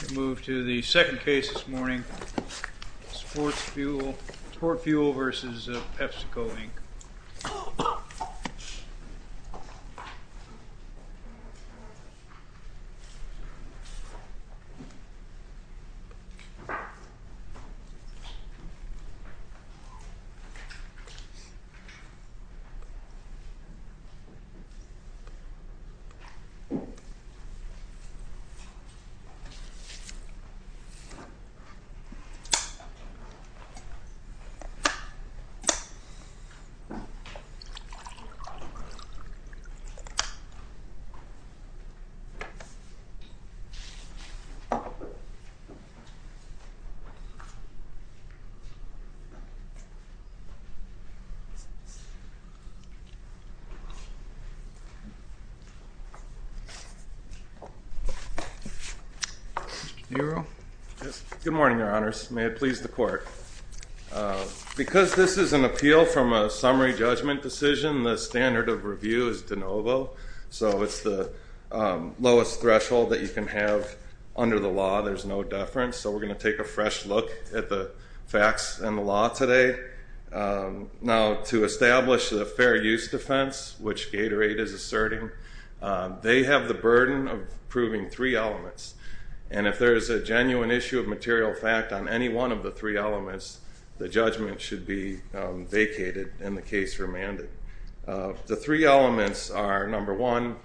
We'll move to the second case this morning, SportFuel v. PepsiCo, Inc. Your Honor. Good morning, Your Honors. May it please the Court. Because this is an appeal from a summary judgment decision, the standard of review is de novo. So it's the lowest threshold that you can have under the law. There's no deference. So we're going to take a fresh look at the facts and the law today. Now, to establish a fair use defense, which Gatorade is asserting, they have the burden of proving three elements. And if there is a genuine issue of material fact on any one of the three elements, the judgment should be vacated and the case remanded. The three elements are, number one,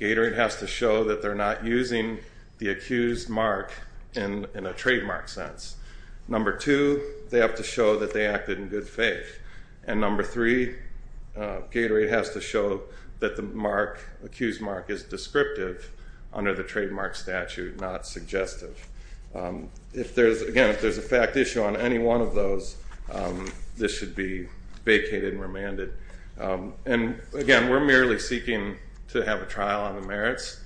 Gatorade has to show that they're not using the accused mark in a trademark sense. Number two, they have to show that they acted in good faith. And number three, Gatorade has to show that the accused mark is descriptive under the trademark statute, not suggestive. Again, if there's a fact issue on any one of those, this should be vacated and remanded. And, again, we're merely seeking to have a trial on the merits.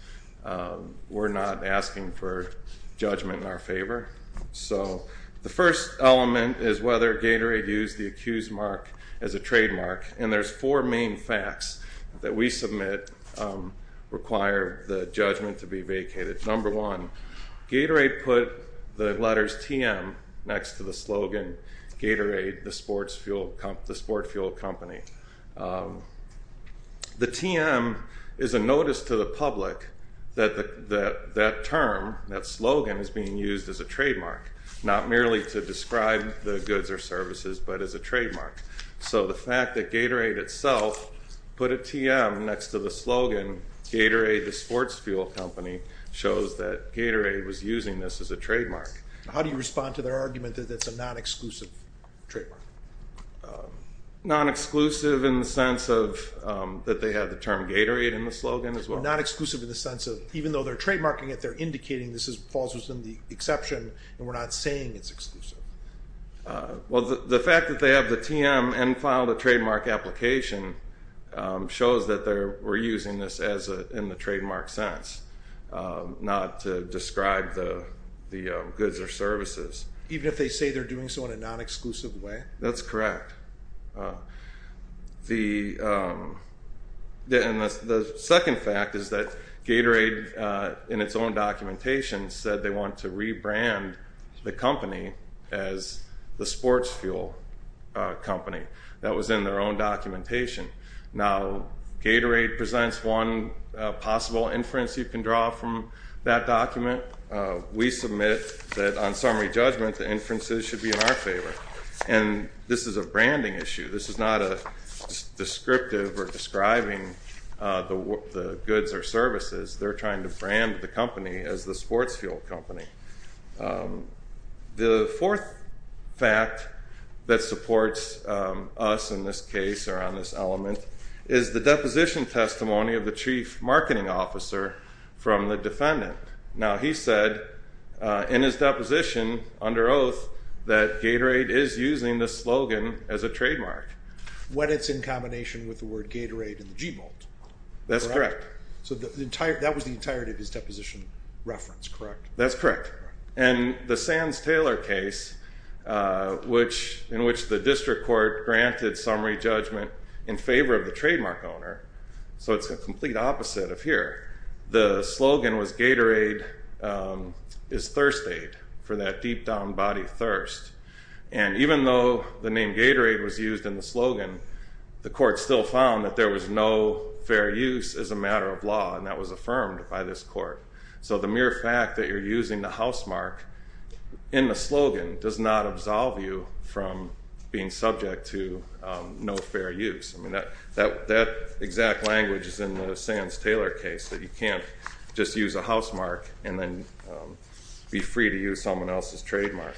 So the first element is whether Gatorade used the accused mark as a trademark. And there's four main facts that we submit require the judgment to be vacated. Number one, Gatorade put the letters TM next to the slogan Gatorade, the sport fuel company. The TM is a notice to the public that that term, that slogan, is being used as a trademark, not merely to describe the goods or services, but as a trademark. So the fact that Gatorade itself put a TM next to the slogan Gatorade, the sports fuel company, shows that Gatorade was using this as a trademark. How do you respond to their argument that it's a non-exclusive trademark? Non-exclusive in the sense that they have the term Gatorade in the slogan as well. Not exclusive in the sense of even though they're trademarking it, they're indicating this falls within the exception and we're not saying it's exclusive. Well, the fact that they have the TM and filed a trademark application shows that they were using this in the trademark sense, not to describe the goods or services. Even if they say they're doing so in a non-exclusive way? That's correct. The second fact is that Gatorade, in its own documentation, said they want to rebrand the company as the sports fuel company. That was in their own documentation. Now, Gatorade presents one possible inference you can draw from that document. We submit that on summary judgment, the inferences should be in our favor. And this is a branding issue. This is not a descriptive or describing the goods or services. They're trying to brand the company as the sports fuel company. The fourth fact that supports us in this case or on this element is the deposition testimony of the chief marketing officer from the defendant. Now, he said in his deposition under oath that Gatorade is using the slogan as a trademark. When it's in combination with the word Gatorade and the G bolt. That's correct. So that was the entirety of his deposition reference, correct? That's correct. And the Sands-Taylor case, in which the district court granted summary judgment in favor of the trademark owner, so it's the complete opposite of here. The slogan was Gatorade is thirst aid for that deep down body thirst. And even though the name Gatorade was used in the slogan, the court still found that there was no fair use as a matter of law, and that was affirmed by this court. So the mere fact that you're using the housemark in the slogan does not absolve you from being subject to no fair use. That exact language is in the Sands-Taylor case, that you can't just use a housemark and then be free to use someone else's trademark.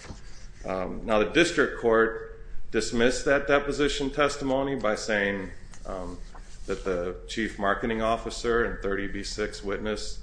Now, the district court dismissed that deposition testimony by saying that the chief marketing officer and 30B6 witness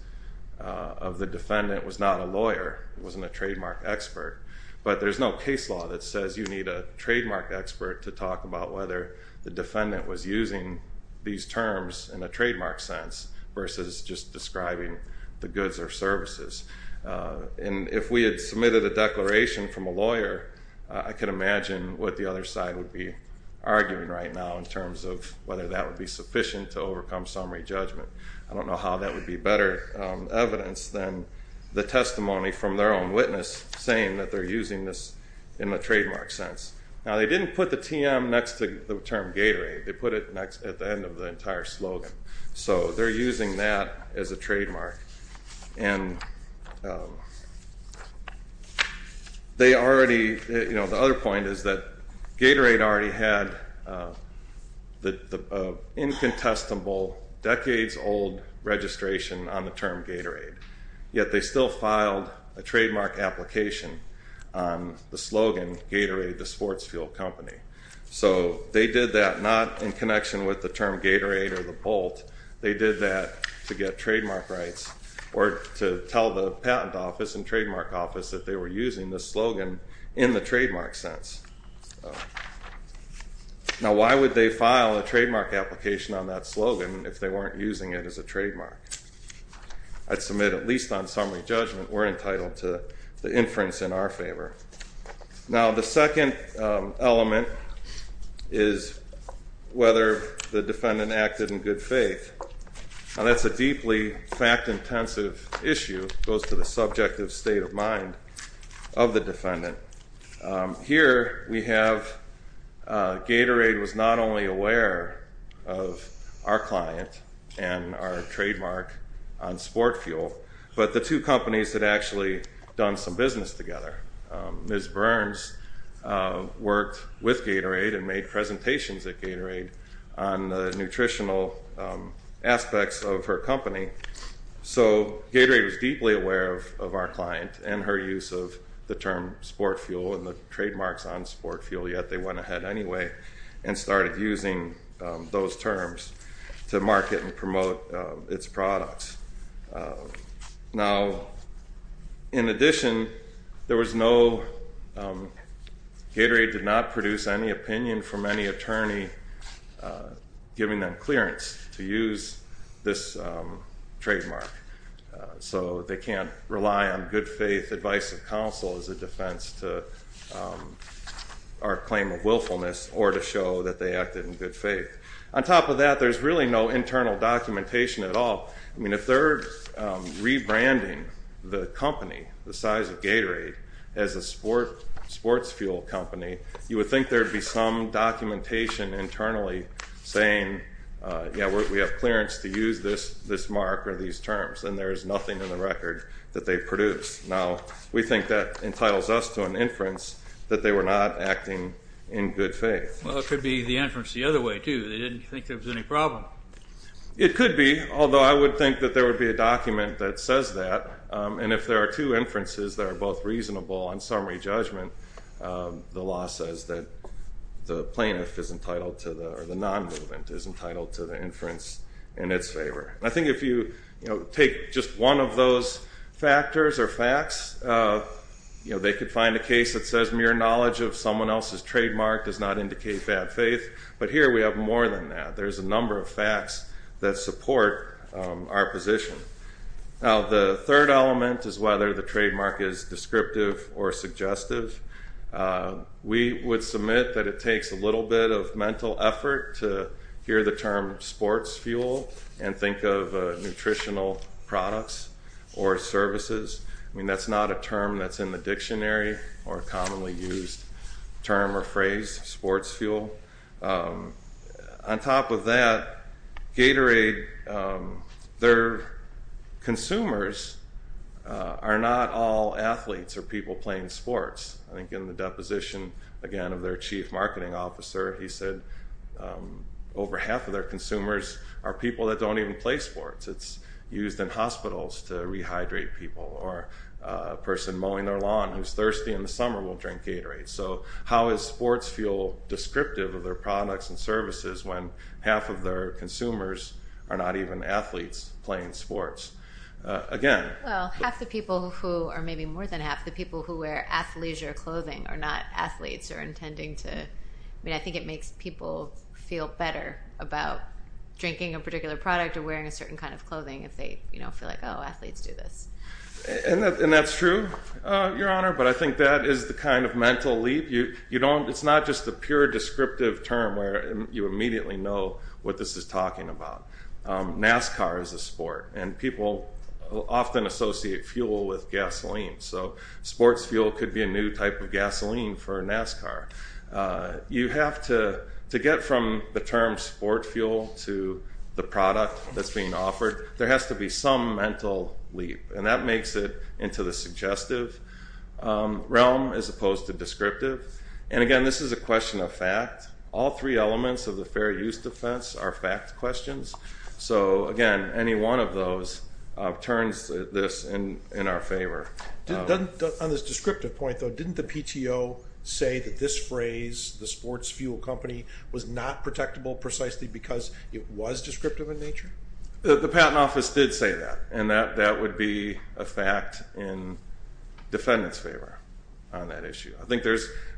of the defendant was not a lawyer, wasn't a trademark expert. But there's no case law that says you need a trademark expert to talk about whether the defendant was using these terms in a trademark sense versus just describing the goods or services. And if we had submitted a declaration from a lawyer, I can imagine what the other side would be arguing right now in terms of whether that would be sufficient to overcome summary judgment. I don't know how that would be better evidence than the testimony from their own witness saying that they're using this in a trademark sense. Now, they didn't put the TM next to the term Gatorade. They put it at the end of the entire slogan. So they're using that as a trademark. The other point is that Gatorade already had the incontestable, decades-old registration on the term Gatorade, yet they still filed a trademark application on the slogan, Gatorade, the sports fuel company. So they did that not in connection with the term Gatorade or the Bolt. They did that to get trademark rights or to tell the patent office and trademark office that they were using the slogan in the trademark sense. Now, why would they file a trademark application on that slogan if they weren't using it as a trademark? I'd submit, at least on summary judgment, we're entitled to the inference in our favor. Now, the second element is whether the defendant acted in good faith. Now, that's a deeply fact-intensive issue. It goes to the subjective state of mind of the defendant. Here we have Gatorade was not only aware of our client and our trademark on sport fuel, but the two companies had actually done some business together. Ms. Burns worked with Gatorade and made presentations at Gatorade on the nutritional aspects of her company. So Gatorade was deeply aware of our client and her use of the term sport fuel and the trademarks on sport fuel, yet they went ahead anyway and started using those terms to market and promote its products. Now, in addition, Gatorade did not produce any opinion from any attorney giving them clearance to use this trademark. So they can't rely on good faith advice of counsel as a defense to our claim of willfulness or to show that they acted in good faith. On top of that, there's really no internal documentation at all. I mean, if they're rebranding the company, the size of Gatorade, as a sports fuel company, you would think there would be some documentation internally saying, yeah, we have clearance to use this mark or these terms, and there is nothing in the record that they produce. Now, we think that entitles us to an inference that they were not acting in good faith. Well, it could be the inference the other way, too. They didn't think there was any problem. It could be, although I would think that there would be a document that says that, and if there are two inferences that are both reasonable on summary judgment, the law says that the plaintiff is entitled to the, or the non-movement, is entitled to the inference in its favor. I think if you take just one of those factors or facts, they could find a case that says mere knowledge of someone else's trademark does not indicate bad faith. But here we have more than that. There's a number of facts that support our position. Now, the third element is whether the trademark is descriptive or suggestive. We would submit that it takes a little bit of mental effort to hear the term sports fuel and think of nutritional products or services. I mean, that's not a term that's in the dictionary or a commonly used term or phrase, sports fuel. On top of that, Gatorade, their consumers are not all athletes or people playing sports. I think in the deposition, again, of their chief marketing officer, he said over half of their consumers are people that don't even play sports. It's used in hospitals to rehydrate people or a person mowing their lawn who's thirsty in the summer will drink Gatorade. So how is sports fuel descriptive of their products and services when half of their consumers are not even athletes playing sports? Again. Well, half the people who are maybe more than half the people who wear athleisure clothing are not athletes or intending to. I mean, I think it makes people feel better about drinking a particular product or wearing a certain kind of clothing if they feel like, oh, athletes do this. And that's true, Your Honor. But I think that is the kind of mental leap. It's not just a pure descriptive term where you immediately know what this is talking about. NASCAR is a sport, and people often associate fuel with gasoline. So sports fuel could be a new type of gasoline for a NASCAR. You have to get from the term sport fuel to the product that's being offered. There has to be some mental leap. And that makes it into the suggestive realm as opposed to descriptive. And, again, this is a question of fact. All three elements of the fair use defense are fact questions. So, again, any one of those turns this in our favor. On this descriptive point, though, didn't the PTO say that this phrase, the sports fuel company, was not protectable precisely because it was descriptive in nature? The Patent Office did say that, and that would be a fact in defendant's favor on that issue.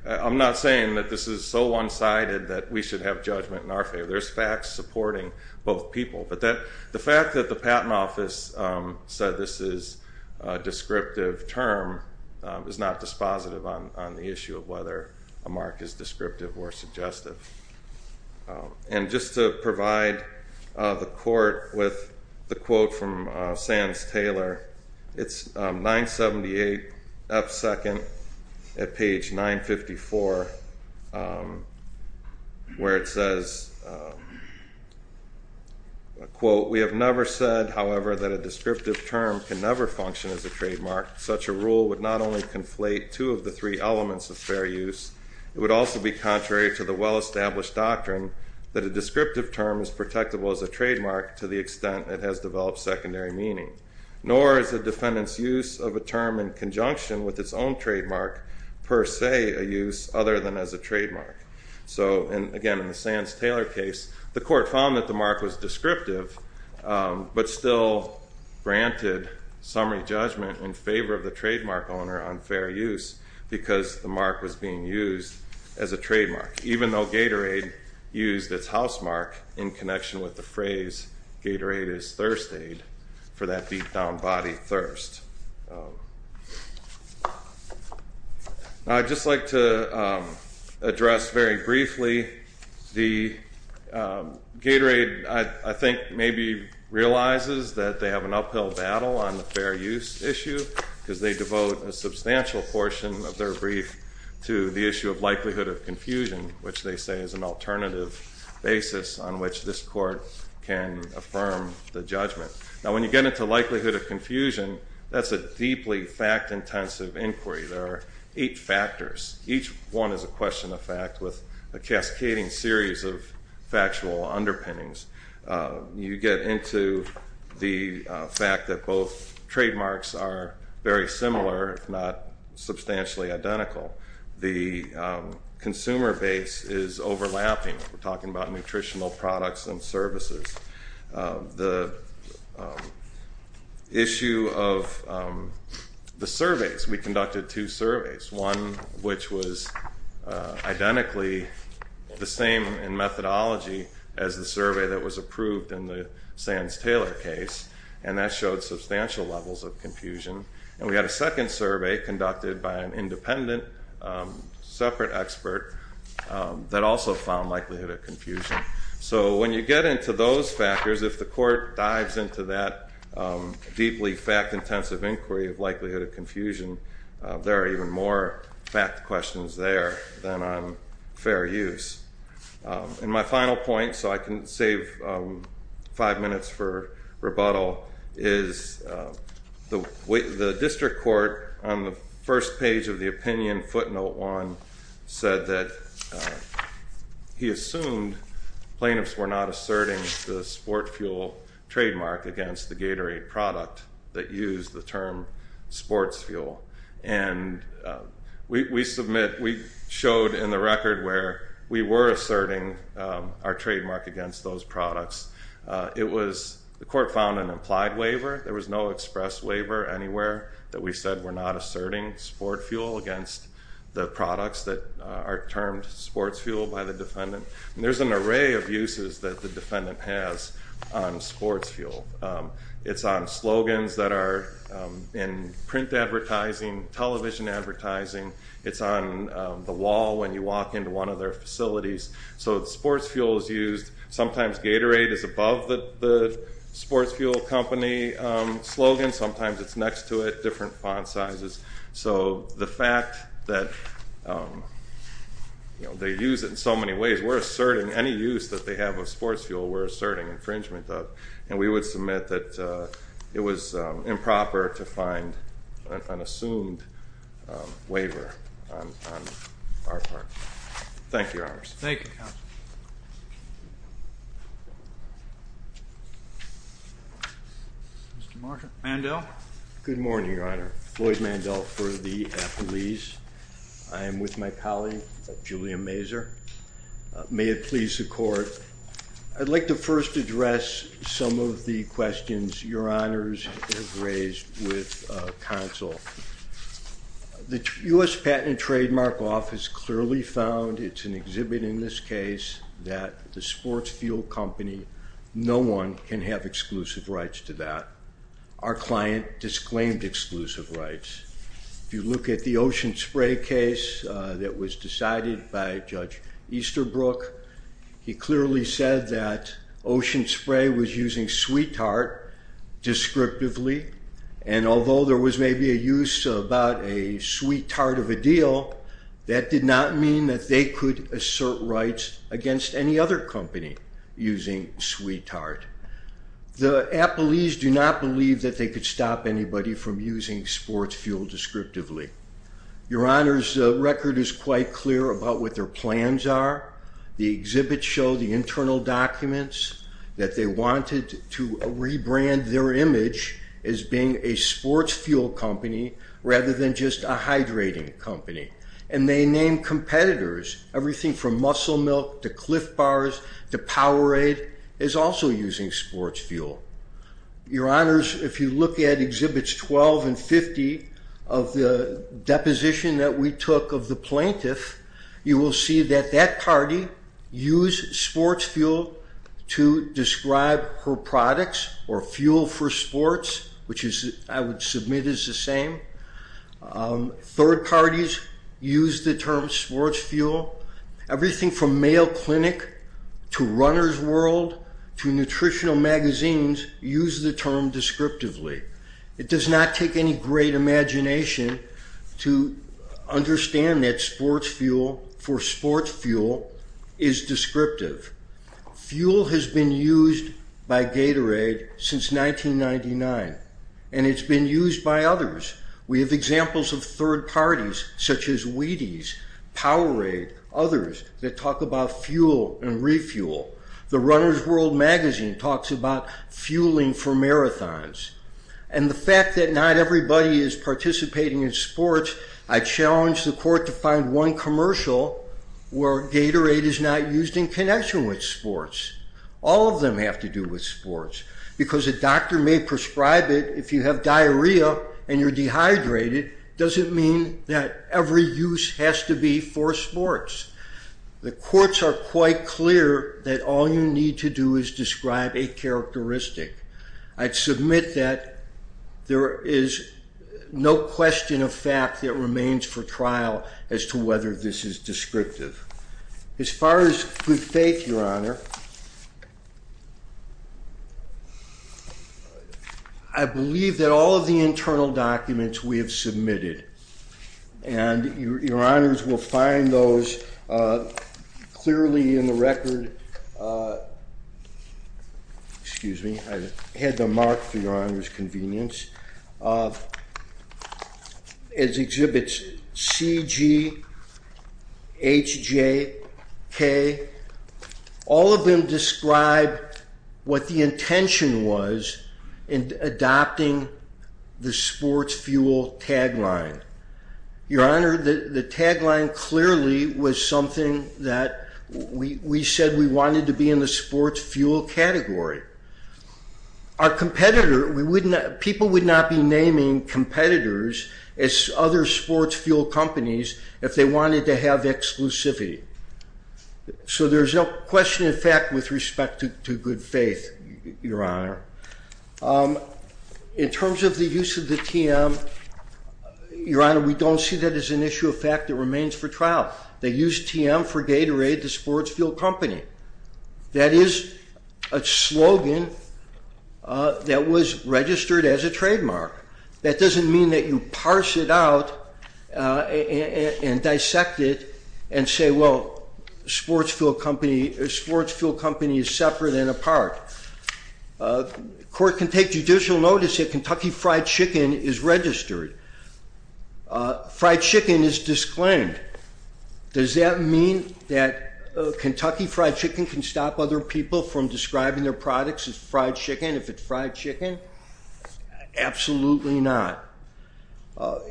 I'm not saying that this is so one-sided that we should have judgment in our favor. There's facts supporting both people. But the fact that the Patent Office said this is a descriptive term is not dispositive on the issue of whether a mark is descriptive or suggestive. And just to provide the court with the quote from Sands-Taylor, it's 978 up second at page 954, where it says, quote, We have never said, however, that a descriptive term can never function as a trademark. Such a rule would not only conflate two of the three elements of fair use. It would also be contrary to the well-established doctrine that a descriptive term is protectable as a trademark to the extent it has developed secondary meaning, nor is a defendant's use of a term in conjunction with its own trademark per se a use other than as a trademark. So, again, in the Sands-Taylor case, the court found that the mark was descriptive, but still granted summary judgment in favor of the trademark owner on fair use because the mark was being used as a trademark, even though Gatorade used its housemark in connection with the phrase, Gatorade is thirst aid for that deep down body thirst. I'd just like to address very briefly the Gatorade, I think, maybe realizes that they have an uphill battle on the fair use issue because they devote a substantial portion of their brief to the issue of likelihood of confusion, which they say is an alternative basis on which this court can affirm the judgment. Now, when you get into likelihood of confusion, that's a deeply fact-intensive inquiry. There are eight factors. Each one is a question of fact with a cascading series of factual underpinnings. You get into the fact that both trademarks are very similar, not substantially identical. The consumer base is overlapping. We're talking about nutritional products and services. The issue of the surveys, we conducted two surveys, one which was identically the same in methodology as the survey that was approved in the Sands-Taylor case, and that showed substantial levels of confusion. And we had a second survey conducted by an independent separate expert that also found likelihood of confusion. So when you get into those factors, if the court dives into that deeply fact-intensive inquiry of likelihood of confusion, there are even more fact questions there than on fair use. And my final point, so I can save five minutes for rebuttal, is the district court on the first page of the opinion footnote one said that he assumed plaintiffs were not asserting the sport fuel trademark against the Gatorade product that used the term sports fuel. And we submit, we showed in the record where we were asserting our trademark against those products. It was, the court found an implied waiver. There was no express waiver anywhere that we said we're not asserting sport fuel against the products that are termed sports fuel by the defendant. And there's an array of uses that the defendant has on sports fuel. It's on slogans that are in print advertising, television advertising. It's on the wall when you walk into one of their facilities. So sports fuel is used. Sometimes Gatorade is above the sports fuel company slogan. Sometimes it's next to it, different font sizes. So the fact that they use it in so many ways, we're asserting any use that they have of sports fuel, we're asserting infringement of. And we would submit that it was improper to find an assumed waiver on our part. Thank you, Your Honors. Thank you, Counsel. Mr. Mandel? Good morning, Your Honor. Lloyd Mandel for the affilies. I am with my colleague, Julia Mazur. May it please the court, I'd like to first address some of the questions Your Honors have raised with Counsel. The U.S. Patent and Trademark Office clearly found, it's an exhibit in this case, that the sports fuel company, no one can have exclusive rights to that. Our client disclaimed exclusive rights. If you look at the Ocean Spray case that was decided by Judge Easterbrook, he clearly said that Ocean Spray was using Sweet Tart descriptively. And although there was maybe a use about a Sweet Tart of a deal, that did not mean that they could assert rights against any other company using Sweet Tart. The affilies do not believe that they could stop anybody from using sports fuel descriptively. Your Honors, the record is quite clear about what their plans are. The exhibit showed the internal documents that they wanted to rebrand their image as being a sports fuel company rather than just a hydrating company. And they named competitors. Everything from Muscle Milk to Cliff Bars to Powerade is also using sports fuel. Your Honors, if you look at Exhibits 12 and 50 of the deposition that we took of the plaintiff, you will see that that party used sports fuel to describe her products or fuel for sports, which I would submit is the same. Third parties use the term sports fuel. Everything from Mayo Clinic to Runner's World to nutritional magazines use the term descriptively. It does not take any great imagination to understand that sports fuel for sports fuel is descriptive. Fuel has been used by Gatorade since 1999, and it's been used by others. We have examples of third parties such as Wheaties, Powerade, others that talk about fuel and refuel. The Runner's World magazine talks about fueling for marathons. And the fact that not everybody is participating in sports, I challenge the court to find one commercial where Gatorade is not used in connection with sports. All of them have to do with sports, because a doctor may prescribe it if you have diarrhea and you're dehydrated. It doesn't mean that every use has to be for sports. The courts are quite clear that all you need to do is describe a characteristic. I'd submit that there is no question of fact that remains for trial as to whether this is descriptive. As far as good faith, Your Honor, I believe that all of the internal documents we have submitted, and Your Honors will find those clearly in the record. Excuse me. I had them marked for Your Honor's convenience. It exhibits C, G, H, J, K. All of them describe what the intention was in adopting the sports fuel tagline. Your Honor, the tagline clearly was something that we said we wanted to be in the sports fuel category. People would not be naming competitors as other sports fuel companies if they wanted to have exclusivity. So there's no question of fact with respect to good faith, Your Honor. In terms of the use of the TM, Your Honor, we don't see that as an issue of fact that remains for trial. They used TM for Gatorade, the sports fuel company. That is a slogan that was registered as a trademark. That doesn't mean that you parse it out and dissect it and say, well, sports fuel company is separate and apart. Court can take judicial notice that Kentucky Fried Chicken is registered. Fried chicken is disclaimed. Does that mean that Kentucky Fried Chicken can stop other people from describing their products as fried chicken if it's fried chicken? Absolutely not. Your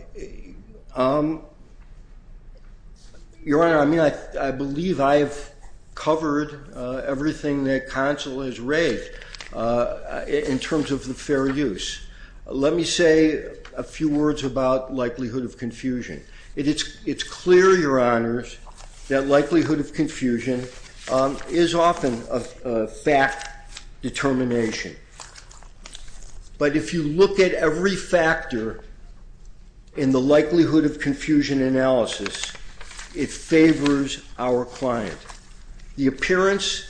Honor, I believe I have covered everything that counsel has raised in terms of the fair use. Let me say a few words about likelihood of confusion. It's clear, Your Honors, that likelihood of confusion is often a fact determination. But if you look at every factor in the likelihood of confusion analysis, it favors our client. The appearance,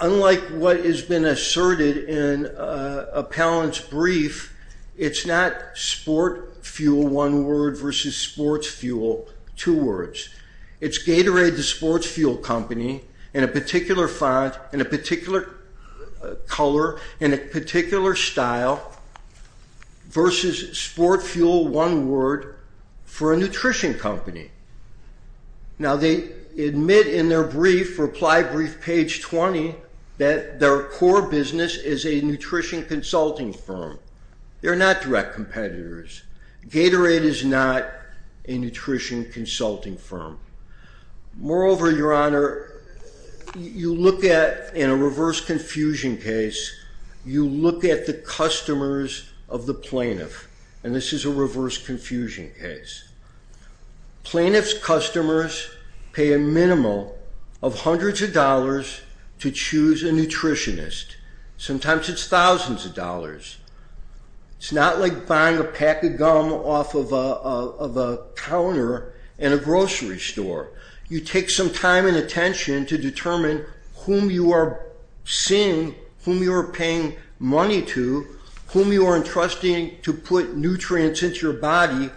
unlike what has been asserted in Appellant's brief, it's not sport fuel, one word, versus sports fuel, two words. It's Gatorade, the sports fuel company, in a particular font, in a particular color, in a particular style, versus sport fuel, one word, for a nutrition company. Now, they admit in their brief, reply brief, page 20, that their core business is a nutrition consulting firm. They're not direct competitors. Gatorade is not a nutrition consulting firm. Moreover, Your Honor, you look at, in a reverse confusion case, you look at the customers of the plaintiff. And this is a reverse confusion case. Plaintiff's customers pay a minimal of hundreds of dollars to choose a nutritionist. Sometimes it's thousands of dollars. It's not like buying a pack of gum off of a counter in a grocery store. You take some time and attention to determine whom you are seeing, whom you are paying money to, whom you are entrusting to put nutrients into your body,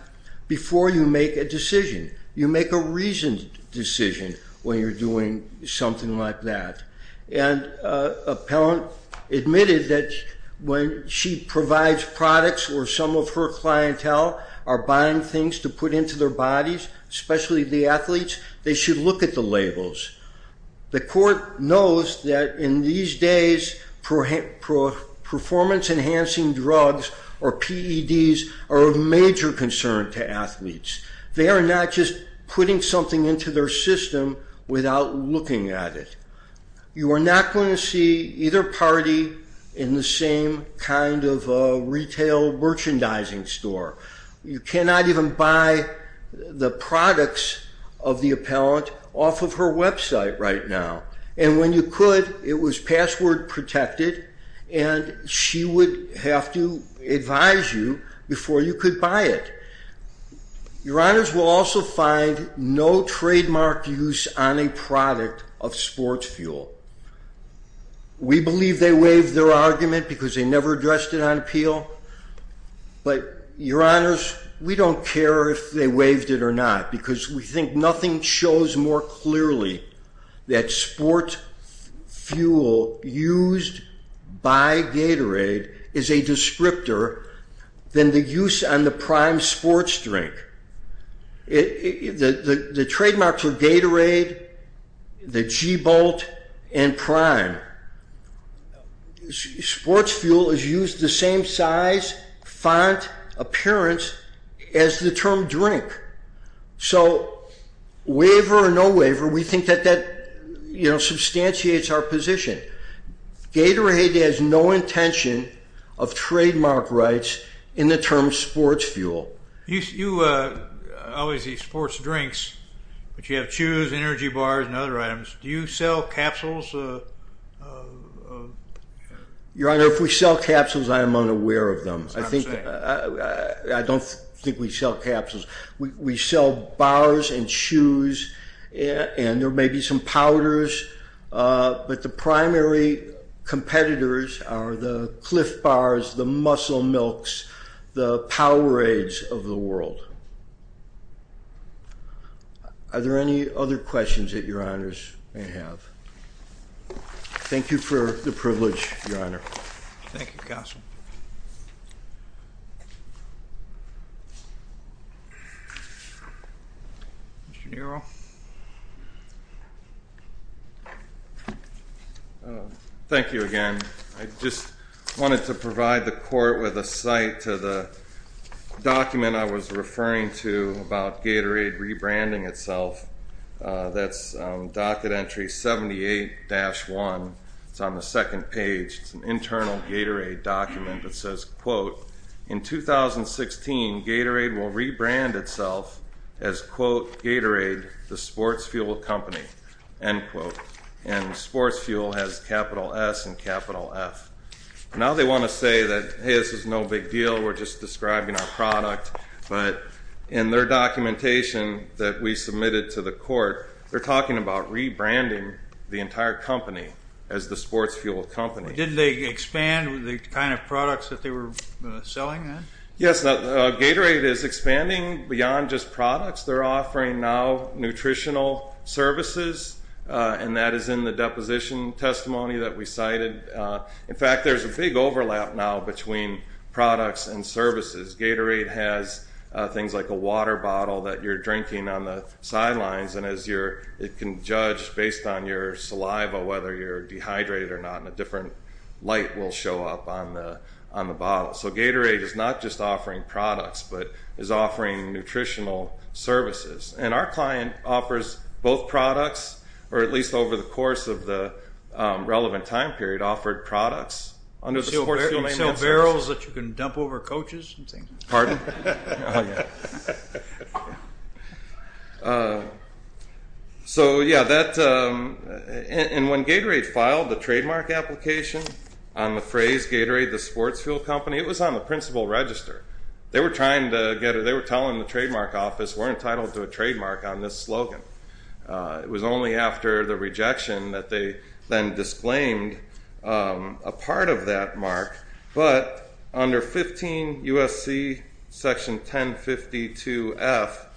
before you make a decision. You make a reasoned decision when you're doing something like that. And appellant admitted that when she provides products or some of her clientele are buying things to put into their bodies, especially the athletes, they should look at the labels. The court knows that in these days, performance enhancing drugs, or PEDs, are of major concern to athletes. They are not just putting something into their system without looking at it. You are not going to see either party in the same kind of retail merchandising store. You cannot even buy the products of the appellant off of her website right now. And when you could, it was password protected. And she would have to advise you before you could buy it. Your honors will also find no trademark use on a product of sports fuel. We believe they waived their argument because they never addressed it on appeal. But your honors, we don't care if they waived it or not because we think nothing shows more clearly that sports fuel used by Gatorade is a descriptor than the use on the Prime sports drink. The trademarks are Gatorade, the G-Bolt, and Prime. Sports fuel is used the same size, font, appearance as the term drink. So waiver or no waiver, we think that that substantiates our position. Gatorade has no intention of trademark rights in the term sports fuel. You always use sports drinks, but you have chews, energy bars, and other items. Do you sell capsules? Your honor, if we sell capsules, I am unaware of them. I don't think we sell capsules. We sell bars and chews, and there may be some powders. But the primary competitors are the Clif Bars, the Muscle Milks, the Powerades of the world. Are there any other questions that your honors may have? Thank you for the privilege, your honor. Mr. Nero? Thank you again. I just wanted to provide the court with a cite to the document I was referring to about Gatorade rebranding itself. That's docket entry 78-1. It's on the second page. It's an internal Gatorade document that says, quote, And sports fuel has capital S and capital F. Now they want to say that, hey, this is no big deal. We're just describing our product. But in their documentation that we submitted to the court, they're talking about rebranding the entire company as the sports fuel company. Did they expand the kind of products that they were selling then? Yes. Gatorade is expanding beyond just products. They're offering now nutritional services. And that is in the deposition testimony that we cited. In fact, there's a big overlap now between products and services. Gatorade has things like a water bottle that you're drinking on the sidelines. And it can judge based on your saliva whether you're dehydrated or not. And a different light will show up on the bottle. So Gatorade is not just offering products, but is offering nutritional services. And our client offers both products, or at least over the course of the relevant time period, offered products. So barrels that you can dump over coaches? Pardon? Oh, yeah. So, yeah, and when Gatorade filed the trademark application on the phrase Gatorade the sports fuel company, it was on the principal register. They were telling the trademark office we're entitled to a trademark on this slogan. It was only after the rejection that they then disclaimed a part of that mark. But under 15 U.S.C. Section 1052-F,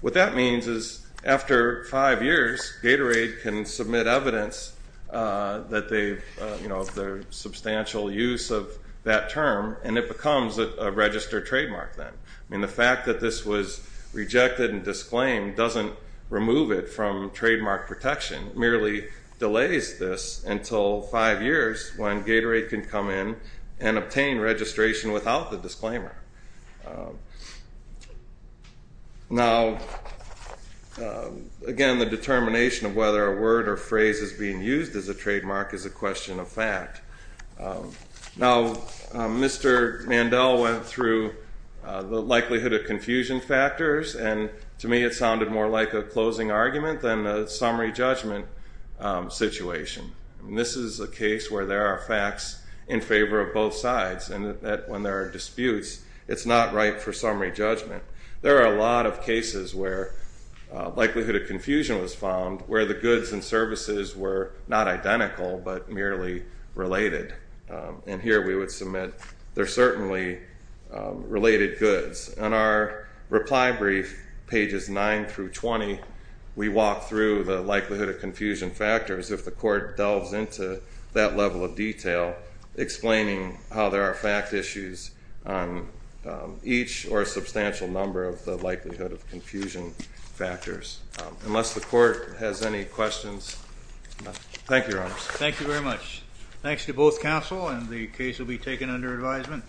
what that means is after five years, Gatorade can submit evidence that they've, you know, their substantial use of that term, and it becomes a registered trademark then. I mean, the fact that this was rejected and disclaimed doesn't remove it from trademark protection. It merely delays this until five years when Gatorade can come in and obtain registration without the disclaimer. Now, again, the determination of whether a word or phrase is being used as a trademark is a question of fact. Now, Mr. Mandel went through the likelihood of confusion factors, and to me it sounded more like a closing argument than a summary judgment situation. This is a case where there are facts in favor of both sides, and when there are disputes, it's not right for summary judgment. There are a lot of cases where likelihood of confusion was found where the goods and services were not identical but merely related. And here we would submit they're certainly related goods. In our reply brief, pages 9 through 20, we walk through the likelihood of confusion factors if the court delves into that level of detail, explaining how there are fact issues on each or a substantial number of the likelihood of confusion factors. Unless the court has any questions, thank you, Your Honors. Thank you very much. Thanks to both counsel, and the case will be taken under advisement.